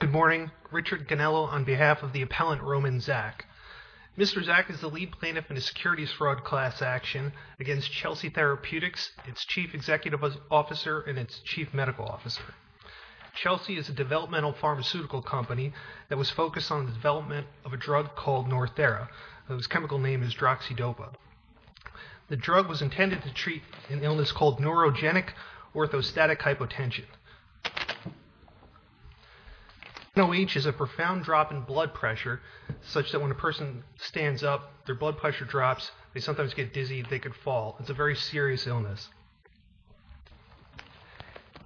Good morning, Richard Ganello on behalf of the appellant Roman Zak. Mr. Zak is the lead plaintiff in a securities fraud class action against Chelsea Therapeutics, its chief executive officer and its chief medical officer. Chelsea is a developmental pharmaceutical company that was focused on the development of a drug called Northera, whose chemical name is droxydopa. The drug was intended to treat an illness called neurogenic orthostatic hypotension. NOH is a profound drop in blood pressure, such that when a person stands up, their blood pressure drops, they sometimes get dizzy, they could fall. It's a very serious illness.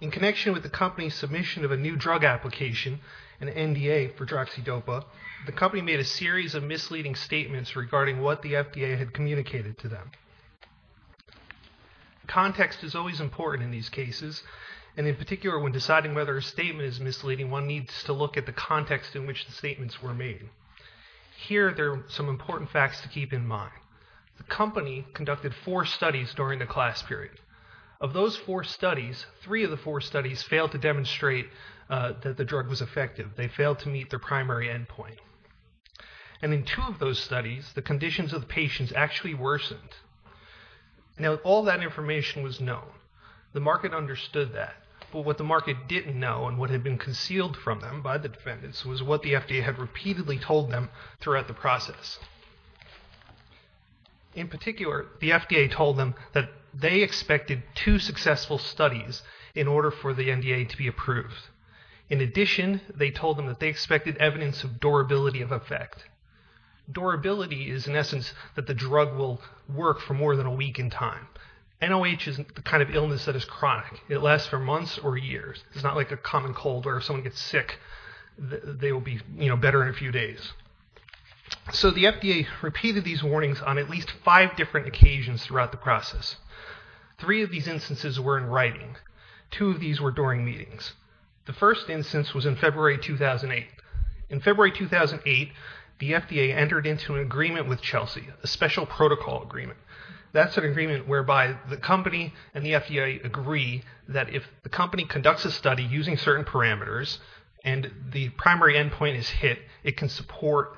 In connection with the company's submission of a new drug application, an NDA for droxydopa, the company made a series of misleading statements regarding what the FDA had communicated to them. Context is always important in these cases, and in particular, when deciding whether a statement is misleading, one needs to look at the context in which the statements were made. Here, there are some important facts to keep in mind. The company conducted four studies during the class period. Of those four studies, three of the four studies failed to demonstrate that the drug was effective. They failed to meet their primary endpoint. And in two of those studies, the conditions of the patients actually worsened. Now, all that information was known. The market understood that. But what the market didn't know, and what had been concealed from them by the defendants, was what the FDA had repeatedly told them throughout the process. In particular, the FDA told them that they expected two successful studies in order for the NDA to be approved. In addition, they told them that they expected evidence of durability of effect. Durability is, in essence, that the drug will work for more than a week in time. NOH is the kind of illness that is chronic. It lasts for months or years. It's not like a common cold where if someone gets sick, they will be better in a few days. So the FDA repeated these warnings on at least five different occasions throughout the process. Three of these instances were in writing. Two of these were during meetings. The first instance was in February 2008. In February 2008, the FDA entered into an agreement with Chelsea, a special protocol agreement. That's an agreement whereby the company and the FDA agree that if the company conducts a study using certain parameters and the primary endpoint is hit, it can support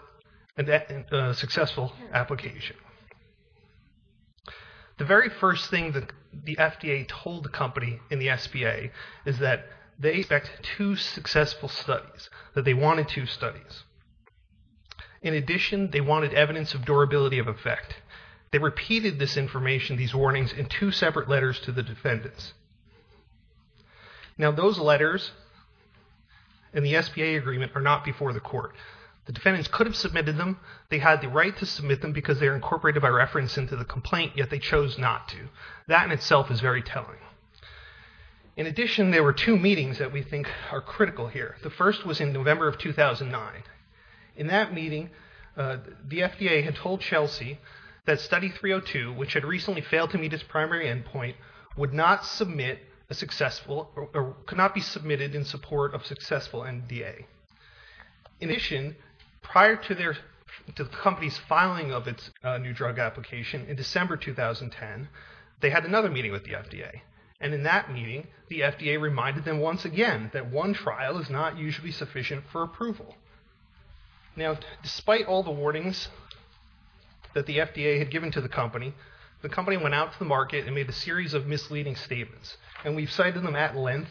a successful application. The very first thing that the FDA told the company and the SBA is that they expected two successful studies, that they wanted two studies. In addition, they wanted evidence of durability of effect. They repeated this information, these warnings, in two separate letters to the defendants. Now, those letters and the SBA agreement are not before the court. The defendants could have submitted them. They had the right to submit them because they were incorporated by reference into the complaint, yet they chose not to. That in itself is very telling. In addition, there were two meetings that we think are critical here. The first was in November of 2009. In that meeting, the FDA had told Chelsea that study 302, which had recently failed to meet its primary endpoint, could not be submitted in support of successful NDA. In addition, prior to the company's filing of its new drug application in December 2010, they had another meeting with the FDA. In that meeting, the FDA reminded them once again that one trial is not usually sufficient for approval. Now, despite all the warnings that the FDA had given to the company, the company went out to the market and made a series of misleading statements. We've cited them at length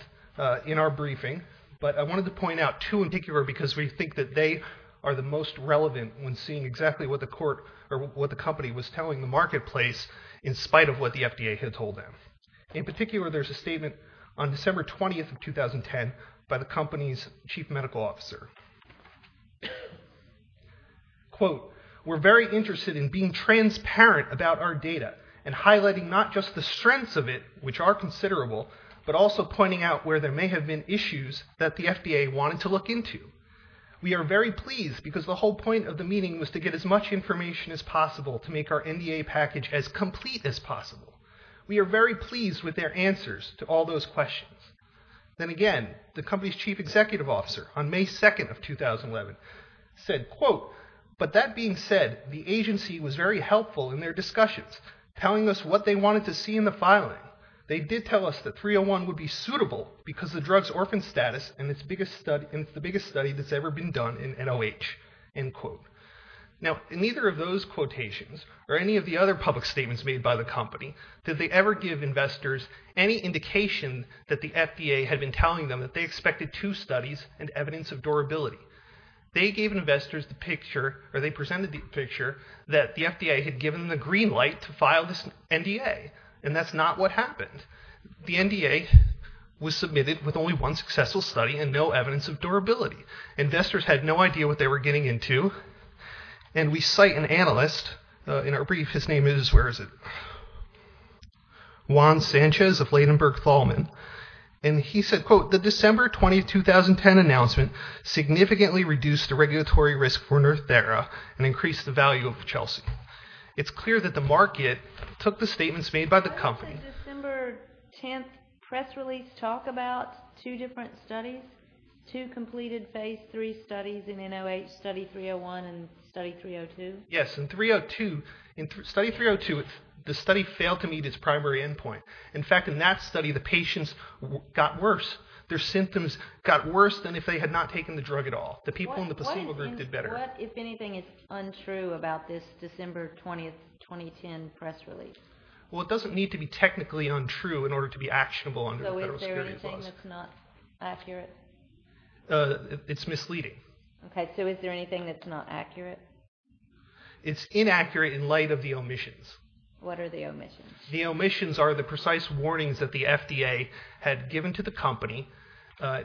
in our briefing, but I wanted to point out two in particular because we think that they are the most relevant when seeing exactly what the company was telling the marketplace in spite of what the FDA had told them. In particular, there's a statement on December 20th of 2010 by the company's chief medical officer. Quote, we're very interested in being transparent about our data and highlighting not just the strengths of it, which are considerable, but also pointing out where there may have been issues that the FDA wanted to look into. We are very pleased because the whole point of the meeting was to get as much information as possible to make our NDA package as complete as possible. We are very pleased with their answers to all those questions. Then again, the company's chief executive officer on May 2nd of 2011 said, quote, but that being said, the agency was very helpful in their discussions, telling us what they wanted to see in the filing. They did tell us that 301 would be suitable because the drug's orphan status and it's the biggest study that's ever been done in NOH, end quote. Now, in neither of those quotations or any of the other public statements made by the company did they ever give investors any indication that the FDA had been telling them that they expected two studies and evidence of durability. They gave investors the picture or they presented the picture that the FDA had given them the green light to file this NDA, and that's not what happened. The NDA was submitted with only one successful study and no evidence of durability. Investors had no idea what they were getting into, and we cite an analyst in our brief, his name is, where is it? Juan Sanchez of Ladenburg Thalman, and he said, quote, the December 20th, 2010 announcement significantly reduced the regulatory risk for Nrthera and increased the value of Chelsea. It's clear that the market took the statements made by the company. Did the December 10th press release talk about two different studies, two completed phase three studies in NOH, study 301 and study 302? Yes, in study 302 the study failed to meet its primary end point. In fact, in that study the patients got worse. Their symptoms got worse than if they had not taken the drug at all. The people in the placebo group did better. What, if anything, is untrue about this December 20th, 2010 press release? Well, it doesn't need to be technically untrue in order to be actionable under federal security laws. So is there anything that's not accurate? It's misleading. Okay, so is there anything that's not accurate? It's inaccurate in light of the omissions. What are the omissions? The omissions are the precise warnings that the FDA had given to the company,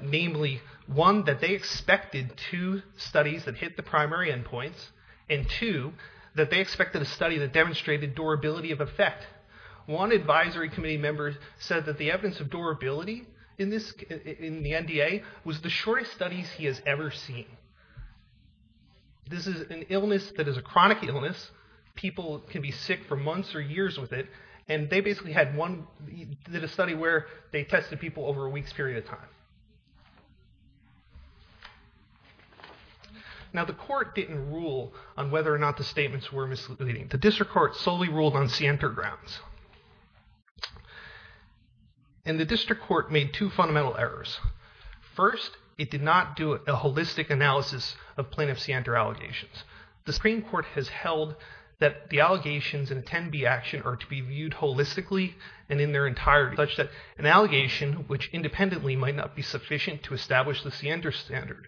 namely, one, that they expected two studies that hit the primary end points, and two, that they expected a study that demonstrated durability of effect. One advisory committee member said that the evidence of durability in the NDA was the shortest studies he has ever seen. This is an illness that is a chronic illness. People can be sick for months or years with it, and they basically did a study where they tested people over a week's period of time. Now, the court didn't rule on whether or not the statements were misleading. The district court solely ruled on scienter grounds, and the district court made two fundamental errors. First, it did not do a holistic analysis of plaintiff scienter allegations. The Supreme Court has held that the allegations in a 10B action are to be viewed holistically and in their entirety, such that an allegation, which independently might not be sufficient to establish the scienter standard,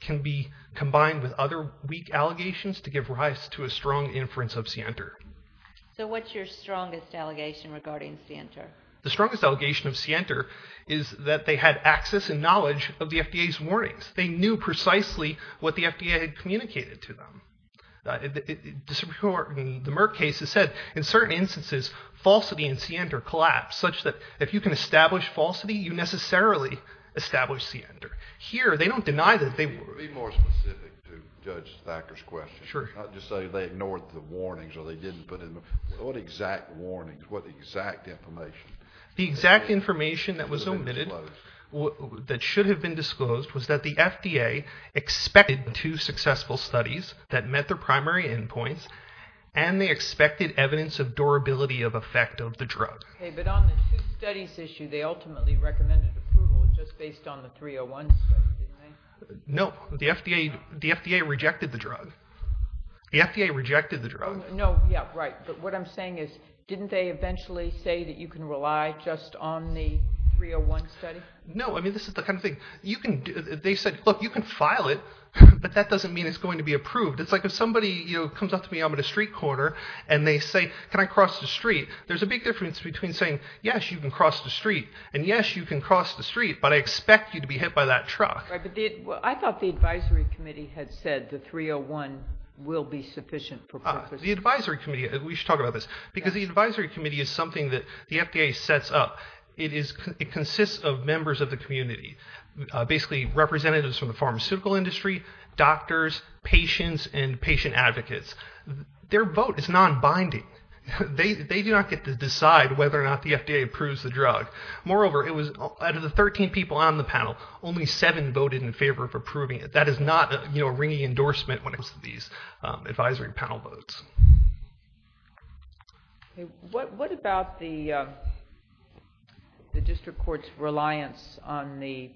can be combined with other weak allegations to give rise to a strong inference of scienter. So what's your strongest allegation regarding scienter? The strongest allegation of scienter is that they had access and knowledge of the FDA's warnings. They knew precisely what the FDA had communicated to them. The Merck case has said, in certain instances, falsity in scienter collapsed, such that if you can establish falsity, you necessarily establish scienter. Here, they don't deny that they were. Be more specific to Judge Thacker's question. Sure. Not just say they ignored the warnings or they didn't, but what exact warnings? What exact information? The exact information that was omitted that should have been disclosed was that the FDA expected the two successful studies that met their primary endpoints and they expected evidence of durability of effect of the drug. But on the two studies issue, they ultimately recommended approval just based on the 301 study, didn't they? No. The FDA rejected the drug. The FDA rejected the drug. No. Yeah, right. But what I'm saying is didn't they eventually say that you can rely just on the 301 study? No. I mean, this is the kind of thing you can do. They said, look, you can file it, but that doesn't mean it's going to be approved. It's like if somebody comes up to me, I'm at a street corner, and they say, can I cross the street? There's a big difference between saying, yes, you can cross the street, and, yes, you can cross the street, but I expect you to be hit by that truck. Right, but I thought the advisory committee had said the 301 will be sufficient for purposes. The advisory committee, we should talk about this, because the advisory committee is something that the FDA sets up. It consists of members of the community, basically representatives from the pharmaceutical industry, doctors, patients, and patient advocates. Their vote is non-binding. They do not get to decide whether or not the FDA approves the drug. Moreover, out of the 13 people on the panel, only seven voted in favor of approving it. That is not a ringing endorsement when it comes to these advisory panel votes. What about the district court's reliance on the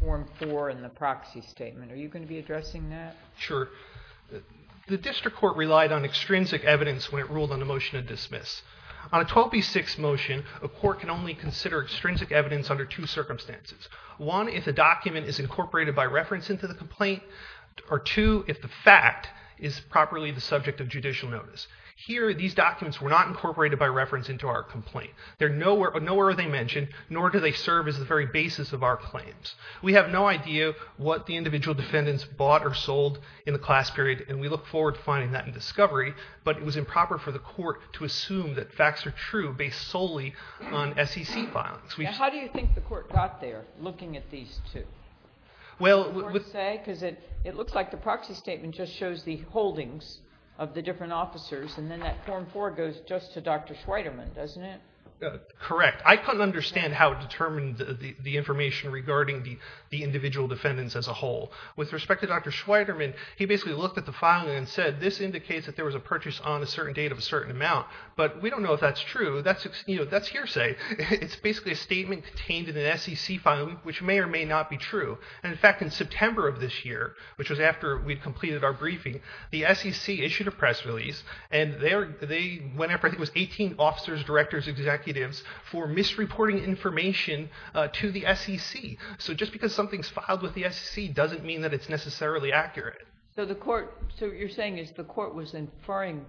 Form 4 and the proxy statement? Are you going to be addressing that? Sure. The district court relied on extrinsic evidence when it ruled on the motion to dismiss. On a 12B6 motion, a court can only consider extrinsic evidence under two circumstances. One, if a document is incorporated by reference into the complaint, or two, if the fact is properly the subject of judicial notice. Here, these documents were not incorporated by reference into our complaint. Nowhere are they mentioned, nor do they serve as the very basis of our claims. We have no idea what the individual defendants bought or sold in the class period, and we look forward to finding that in discovery, but it was improper for the court to assume that facts are true based solely on SEC filings. How do you think the court got there looking at these two? Because it looks like the proxy statement just shows the holdings of the different officers, and then that Form 4 goes just to Dr. Schweiderman, doesn't it? Correct. I couldn't understand how it determined the information regarding the individual defendants as a whole. With respect to Dr. Schweiderman, he basically looked at the filing and said this indicates that there was a purchase on a certain date of a certain amount, but we don't know if that's true. That's hearsay. It's basically a statement contained in an SEC filing which may or may not be true. In fact, in September of this year, which was after we'd completed our briefing, the SEC issued a press release, and they went after I think it was 18 officers, directors, executives, for misreporting information to the SEC. So just because something's filed with the SEC doesn't mean that it's necessarily accurate. So what you're saying is the court was inferring?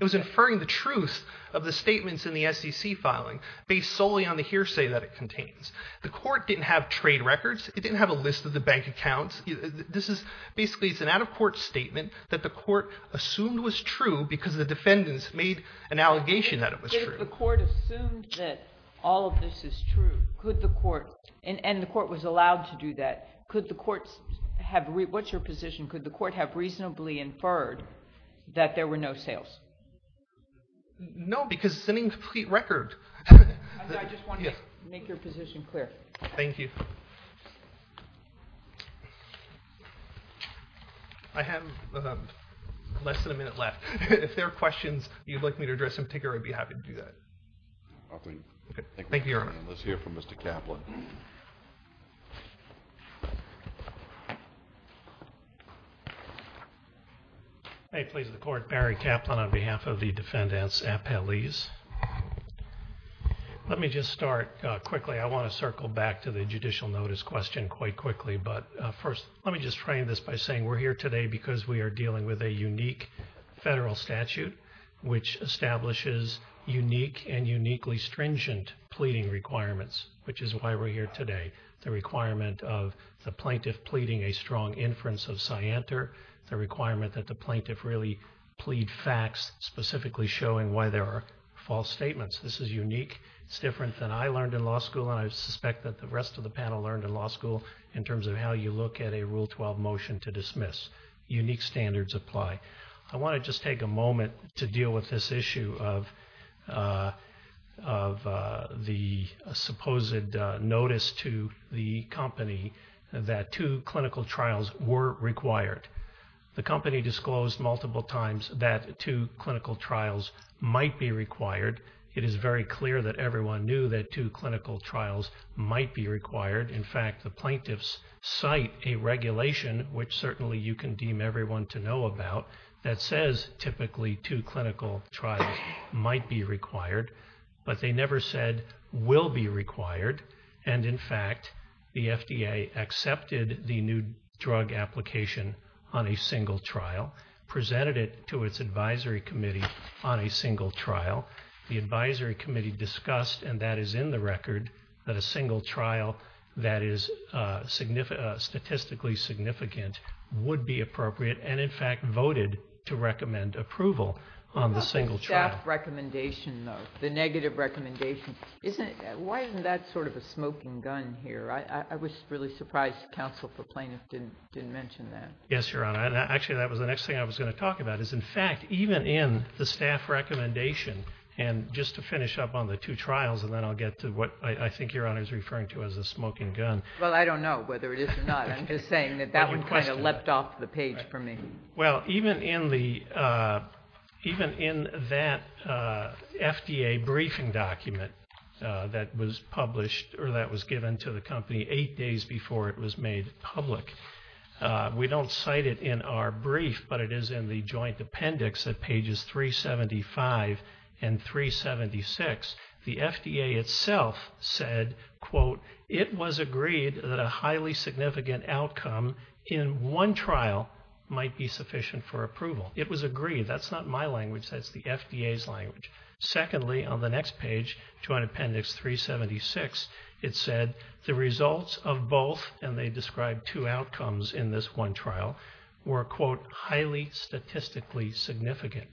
It was inferring the truth of the statements in the SEC filing based solely on the hearsay that it contains. The court didn't have trade records. It didn't have a list of the bank accounts. Basically it's an out-of-court statement that the court assumed was true because the defendants made an allegation that it was true. If the court assumed that all of this is true, and the court was allowed to do that, what's your position? Could the court have reasonably inferred that there were no sales? No, because it's an incomplete record. I just want to make your position clear. Thank you. I have less than a minute left. If there are questions you'd like me to address in particular, I'd be happy to do that. Thank you, Your Honor. Let's hear from Mr. Kaplan. May it please the Court, Barry Kaplan on behalf of the defendants appellees. Let me just start quickly. I want to circle back to the judicial notice question quite quickly, but first let me just frame this by saying we're here today because we are dealing with a unique federal statute which establishes unique and uniquely stringent pleading requirements, which is why we're here today. The requirement of the plaintiff pleading a strong inference of scienter, the requirement that the plaintiff really plead facts, specifically showing why there are false statements. This is unique. It's different than I learned in law school, and I suspect that the rest of the panel learned in law school in terms of how you look at a Rule 12 motion to dismiss. Unique standards apply. I want to just take a moment to deal with this issue of the supposed notice to the company that two clinical trials were required. The company disclosed multiple times that two clinical trials might be required. It is very clear that everyone knew that two clinical trials might be required. In fact, the plaintiffs cite a regulation, which certainly you can deem everyone to know about, that says typically two clinical trials might be required, but they never said will be required. And, in fact, the FDA accepted the new drug application on a single trial, presented it to its advisory committee on a single trial. The advisory committee discussed, and that is in the record, that a single trial that is statistically significant would be appropriate and, in fact, voted to recommend approval on the single trial. What about the staff recommendation, though, the negative recommendation? Why isn't that sort of a smoking gun here? I was really surprised counsel for plaintiffs didn't mention that. Yes, Your Honor. Actually, that was the next thing I was going to talk about, is in fact even in the staff recommendation, and just to finish up on the two trials, and then I'll get to what I think Your Honor is referring to as a smoking gun. Well, I don't know whether it is or not. I'm just saying that that one kind of leapt off the page for me. Well, even in that FDA briefing document that was published or that was given to the company eight days before it was made public, we don't cite it in our brief, but it is in the joint appendix at pages 375 and 376. The FDA itself said, quote, it was agreed that a highly significant outcome in one trial might be sufficient for approval. It was agreed. That's not my language. That's the FDA's language. Secondly, on the next page, joint appendix 376, it said the results of both, and they described two outcomes in this one trial, were, quote, highly statistically significant.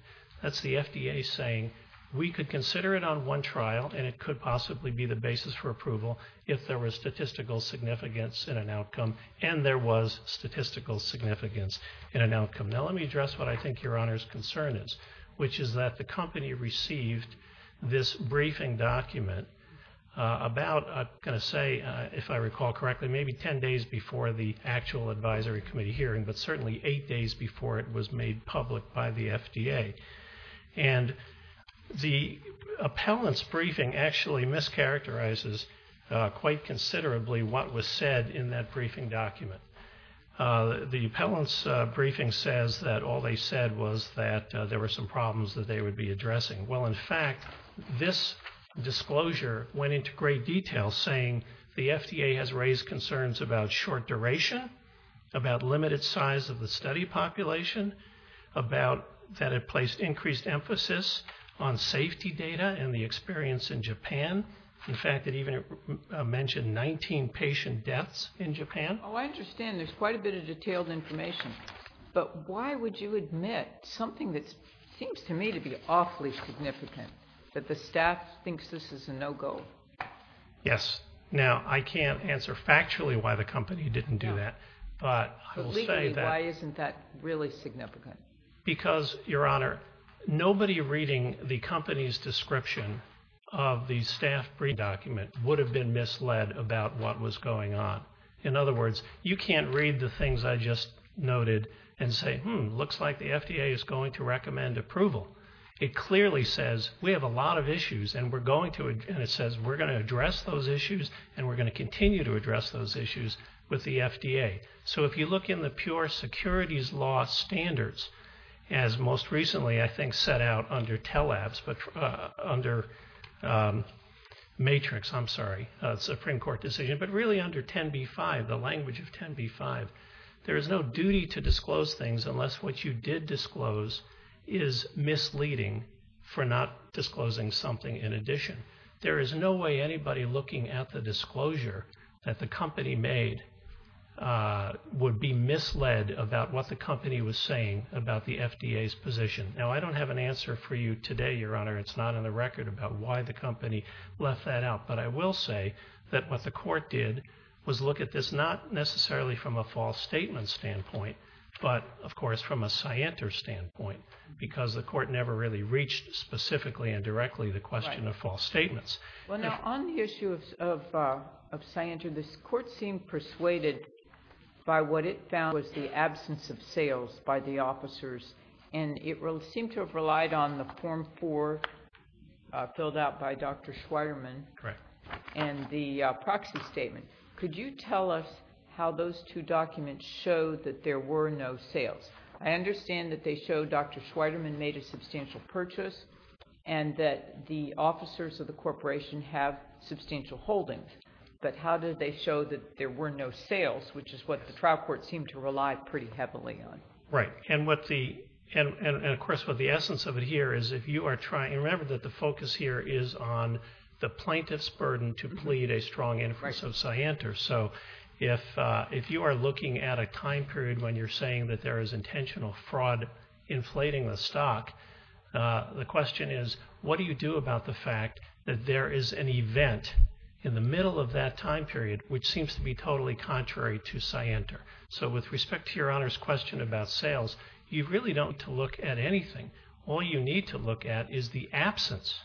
That's the FDA saying we could consider it on one trial and it could possibly be the basis for approval if there was statistical significance in an outcome and there was statistical significance in an outcome. Now let me address what I think Your Honor's concern is, which is that the company received this briefing document about, I'm going to say, if I recall correctly, maybe ten days before the actual advisory committee hearing, but certainly eight days before it was made public by the FDA. And the appellant's briefing actually mischaracterizes quite considerably what was said in that briefing document. The appellant's briefing says that all they said was that there were some problems that they would be addressing. Well, in fact, this disclosure went into great detail, saying the FDA has raised concerns about short duration, about limited size of the study population, that it placed increased emphasis on safety data and the experience in Japan. In fact, it even mentioned 19 patient deaths in Japan. Oh, I understand. There's quite a bit of detailed information. But why would you admit something that seems to me to be awfully significant, that the staff thinks this is a no-go? Yes. Now, I can't answer factually why the company didn't do that. But I will say that. But legally, why isn't that really significant? Because, Your Honor, nobody reading the company's description of the staff briefing document would have been misled about what was going on. In other words, you can't read the things I just noted and say, hmm, looks like the FDA is going to recommend approval. It clearly says we have a lot of issues, and it says we're going to address those issues and we're going to continue to address those issues with the FDA. So if you look in the pure securities law standards, as most recently I think set out under MATRIX, I'm sorry, Supreme Court decision, but really under 10b-5, the language of 10b-5, there is no duty to disclose things unless what you did disclose is misleading for not disclosing something in addition. There is no way anybody looking at the disclosure that the company made would be misled about what the company was saying about the FDA's position. Now, I don't have an answer for you today, Your Honor. It's not on the record about why the company left that out. But I will say that what the court did was look at this, not necessarily from a false statement standpoint, but, of course, from a scienter standpoint, because the court never really reached specifically and directly the question of false statements. Well, now, on the issue of scienter, this court seemed persuaded by what it found was the absence of sales by the officers, and it seemed to have relied on the Form 4 filled out by Dr. Schweiderman and the proxy statement. Could you tell us how those two documents show that there were no sales? I understand that they show Dr. Schweiderman made a substantial purchase and that the officers of the corporation have substantial holdings. But how did they show that there were no sales, which is what the trial court seemed to rely pretty heavily on? Right. And, of course, what the essence of it here is if you are trying to remember that the focus here is on the plaintiff's burden to plead a strong inference of scienter. So if you are looking at a time period when you're saying that there is intentional fraud inflating the stock, the question is what do you do about the fact that there is an event in the middle of that time period which seems to be totally contrary to scienter? So with respect to Your Honor's question about sales, you really don't need to look at anything. All you need to look at is the absence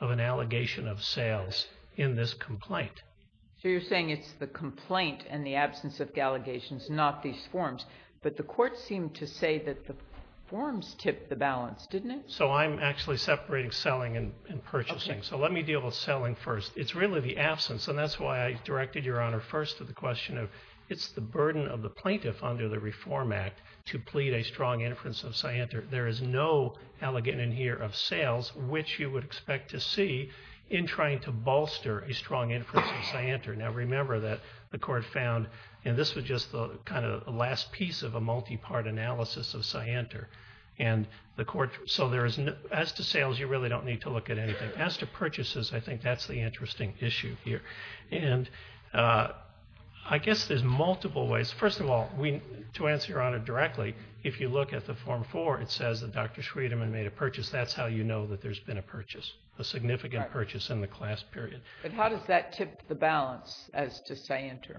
of an allegation of sales in this complaint. So you're saying it's the complaint and the absence of allegations, not these forms. But the court seemed to say that the forms tipped the balance, didn't it? So I'm actually separating selling and purchasing. So let me deal with selling first. It's really the absence, and that's why I directed Your Honor first to the question of it's the burden of the plaintiff under the Reform Act to plead a strong inference of scienter. There is no allegation here of sales which you would expect to see in trying to bolster a strong inference of scienter. Now remember that the court found, and this was just kind of the last piece of a multi-part analysis of scienter. So as to sales, you really don't need to look at anything. As to purchases, I think that's the interesting issue here. And I guess there's multiple ways. First of all, to answer Your Honor directly, if you look at the Form 4, it says that Dr. Schwedeman made a purchase. That's how you know that there's been a purchase, a significant purchase in the class period. But how does that tip the balance as to scienter?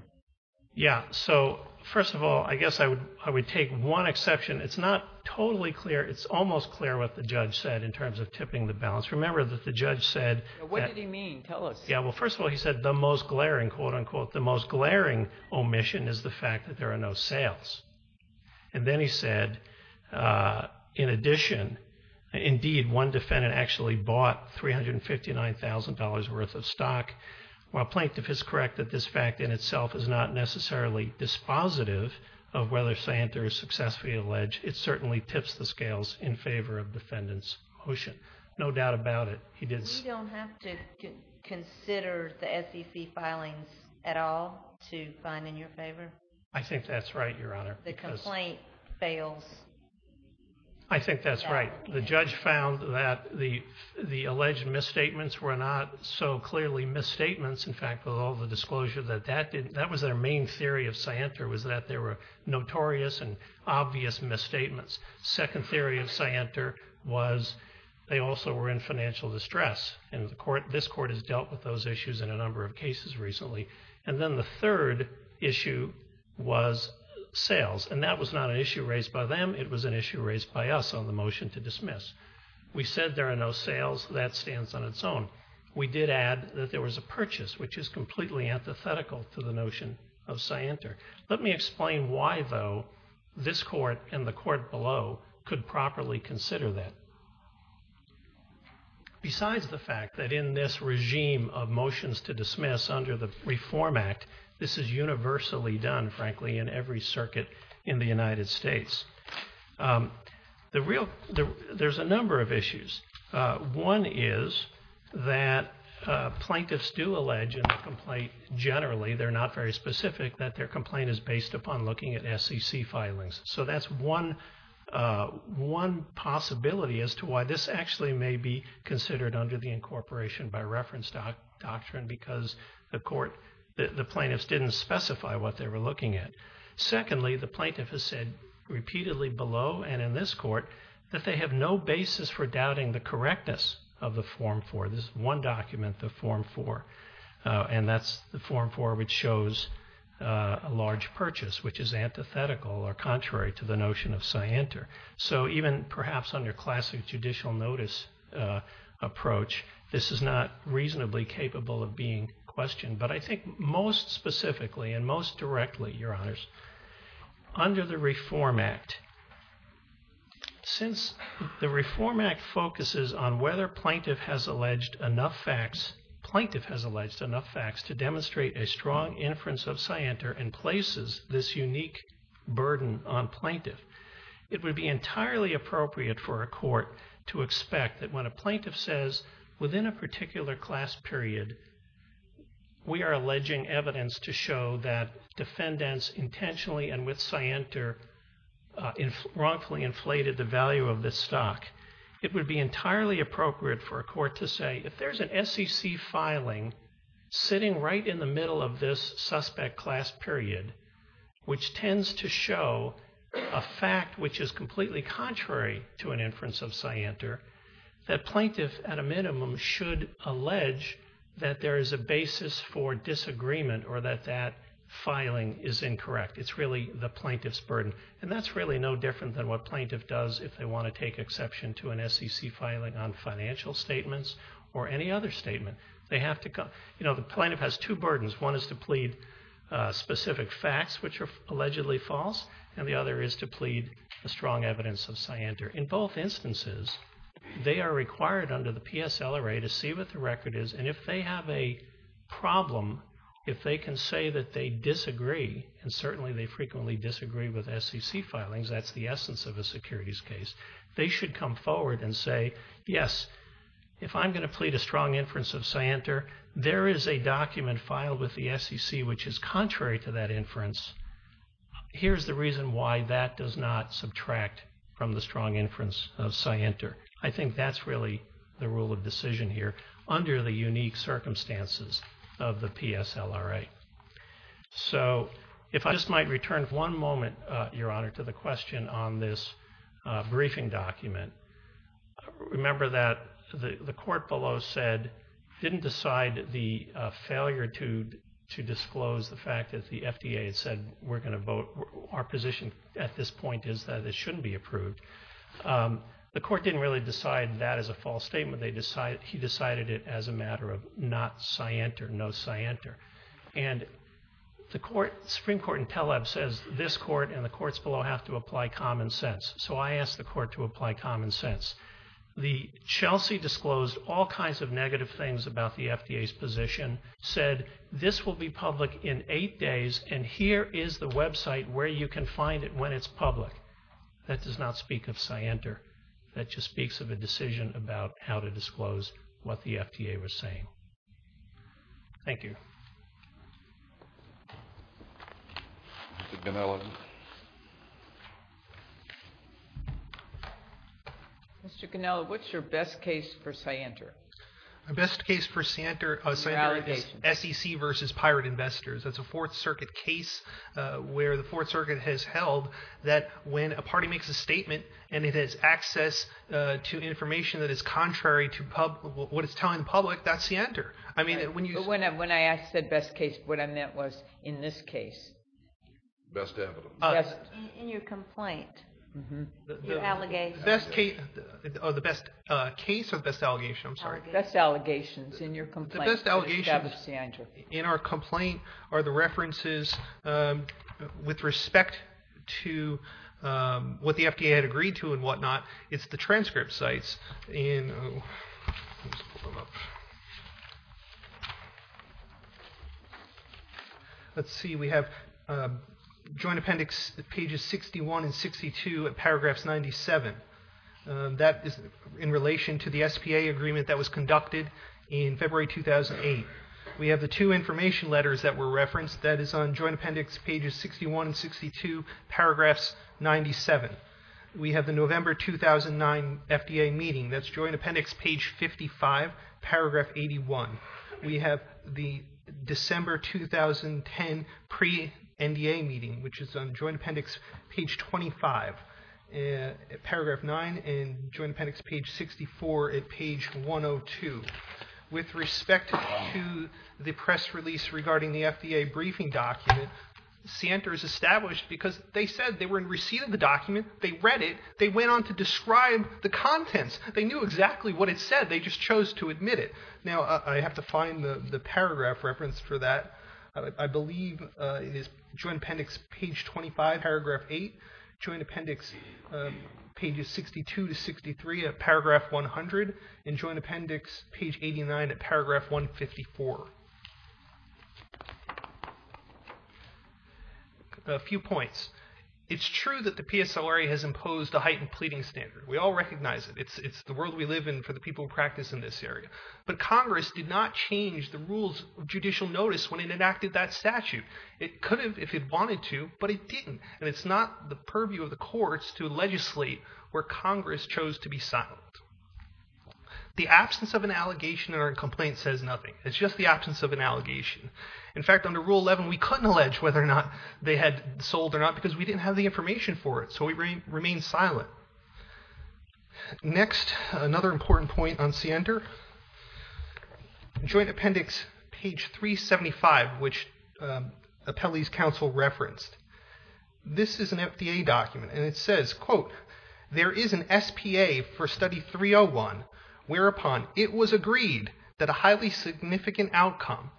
Yeah. So first of all, I guess I would take one exception. It's not totally clear. It's almost clear what the judge said in terms of tipping the balance. Remember that the judge said that — What did he mean? Tell us. Yeah. Well, first of all, he said the most glaring, quote, unquote, the most glaring omission is the fact that there are no sales. And then he said, in addition, indeed, one defendant actually bought $359,000 worth of stock. While Plankton is correct that this fact in itself is not necessarily dispositive of whether scienter is successfully alleged, it certainly tips the scales in favor of defendant's motion. No doubt about it. You don't have to consider the SEC filings at all to find in your favor? I think that's right, Your Honor. The complaint fails. I think that's right. The judge found that the alleged misstatements were not so clearly misstatements. In fact, with all the disclosure that that was their main theory of scienter was that there were notorious and obvious misstatements. Second theory of scienter was they also were in financial distress. And this court has dealt with those issues in a number of cases recently. And then the third issue was sales. And that was not an issue raised by them. It was an issue raised by us on the motion to dismiss. We said there are no sales. That stands on its own. We did add that there was a purchase, which is completely antithetical to the notion of scienter. Let me explain why, though, this court and the court below could properly consider that. Besides the fact that in this regime of motions to dismiss under the Reform Act, this is universally done, frankly, in every circuit in the United States. There's a number of issues. One is that plaintiffs do allege in the complaint generally, they're not very specific, that their complaint is based upon looking at SEC filings. So that's one possibility as to why this actually may be considered under the incorporation by reference doctrine because the plaintiffs didn't specify what they were looking at. Secondly, the plaintiff has said repeatedly below and in this court that they have no basis for doubting the correctness of the Form 4. This is one document, the Form 4. And that's the Form 4 which shows a large purchase, which is antithetical or contrary to the notion of scienter. So even perhaps under classic judicial notice approach, this is not reasonably capable of being questioned. But I think most specifically and most directly, Your Honors, under the Reform Act, since the Reform Act focuses on whether plaintiff has alleged enough facts, plaintiff has alleged enough facts to demonstrate a strong inference of scienter and places this unique burden on plaintiff, it would be entirely appropriate for a court to expect that when a plaintiff says, within a particular class period, we are alleging evidence to show that defendants intentionally and with scienter wrongfully inflated the value of this stock. It would be entirely appropriate for a court to say, if there's an SEC filing sitting right in the middle of this suspect class period, which tends to show a fact which is completely contrary to an inference of scienter, that plaintiff at a minimum should allege that there is a basis for disagreement or that that filing is incorrect. It's really the plaintiff's burden. And that's really no different than what plaintiff does if they want to take exception to an SEC filing on financial statements or any other statement. The plaintiff has two burdens. One is to plead specific facts which are allegedly false. And the other is to plead a strong evidence of scienter. In both instances, they are required under the PSL array to see what the record is. And if they have a problem, if they can say that they disagree, and certainly they frequently disagree with SEC filings, that's the essence of a securities case, they should come forward and say, yes, if I'm going to plead a strong inference of scienter, there is a document filed with the SEC which is contrary to that inference. Here's the reason why that does not subtract from the strong inference of scienter. I think that's really the rule of decision here under the unique circumstances of the PSL array. So if I just might return one moment, Your Honor, to the question on this briefing document. Remember that the court below didn't decide the failure to disclose the fact that the FDA had said we're going to vote. Our position at this point is that it shouldn't be approved. The court didn't really decide that as a false statement. He decided it as a matter of not scienter, no scienter. And the Supreme Court in Teleb says this court and the courts below have to apply common sense. So I ask the court to apply common sense. The Chelsea disclosed all kinds of negative things about the FDA's position, said this will be public in eight days and here is the website where you can find it when it's public. That does not speak of scienter. That just speaks of a decision about how to disclose what the FDA was saying. Thank you. Mr. Cannella. Mr. Cannella, what's your best case for scienter? My best case for scienter is SEC versus pirate investors. That's a Fourth Circuit case where the Fourth Circuit has held that when a party makes a statement and it has access to information that is contrary to what it's telling the public, that's scienter. When I said best case, what I meant was in this case. Best evidence. In your complaint, your allegation. The best case or the best allegation, I'm sorry. Best allegations in your complaint. The best allegations in our complaint are the references with respect to what the FDA had agreed to and whatnot. It's the transcript sites. Let's see. We have Joint Appendix pages 61 and 62, paragraphs 97. That is in relation to the SPA agreement that was conducted in February 2008. We have the two information letters that were referenced. That is on Joint Appendix pages 61 and 62, paragraphs 97. We have the November 2009 FDA meeting. That's Joint Appendix page 55, paragraph 81. We have the December 2010 pre-NDA meeting, which is on Joint Appendix page 25, paragraph 9, and Joint Appendix page 64 at page 102. With respect to the press release regarding the FDA briefing document, Center is established because they said they were in receipt of the document. They read it. They went on to describe the contents. They knew exactly what it said. They just chose to admit it. Now, I have to find the paragraph reference for that. I believe it is Joint Appendix page 25, paragraph 8, Joint Appendix pages 62 to 63 at paragraph 100, and Joint Appendix page 89 at paragraph 154. A few points. It's true that the PSLRA has imposed a heightened pleading standard. We all recognize it. It's the world we live in for the people who practice in this area. But Congress did not change the rules of judicial notice when it enacted that statute. It could have if it wanted to, but it didn't, and it's not the purview of the courts to legislate where Congress chose to be silent. The absence of an allegation or a complaint says nothing. It's just the absence of an allegation. In fact, under Rule 11, we couldn't allege whether or not they had sold or not because we didn't have the information for it, so we remained silent. Next, another important point on CNDR, Joint Appendix page 375, which Appellee's Counsel referenced. This is an FDA document, and it says, quote, there is an SPA for study 301 whereupon it was agreed that a highly significant outcome,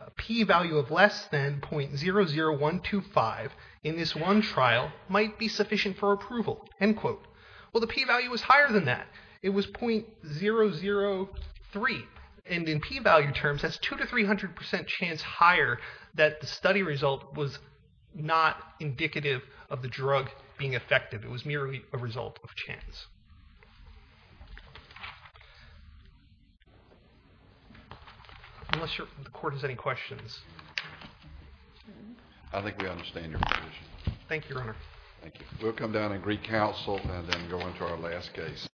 a P value of less than .00125 in this one trial, might be sufficient for approval, end quote. Well, the P value was higher than that. It was .003, and in P value terms, that's 200% to 300% chance higher that the study result was not indicative of the drug being effective. It was merely a result of chance. Unless the court has any questions. I think we understand your position. Thank you, Your Honor. Thank you. We'll come down and recounsel and then go into our last case.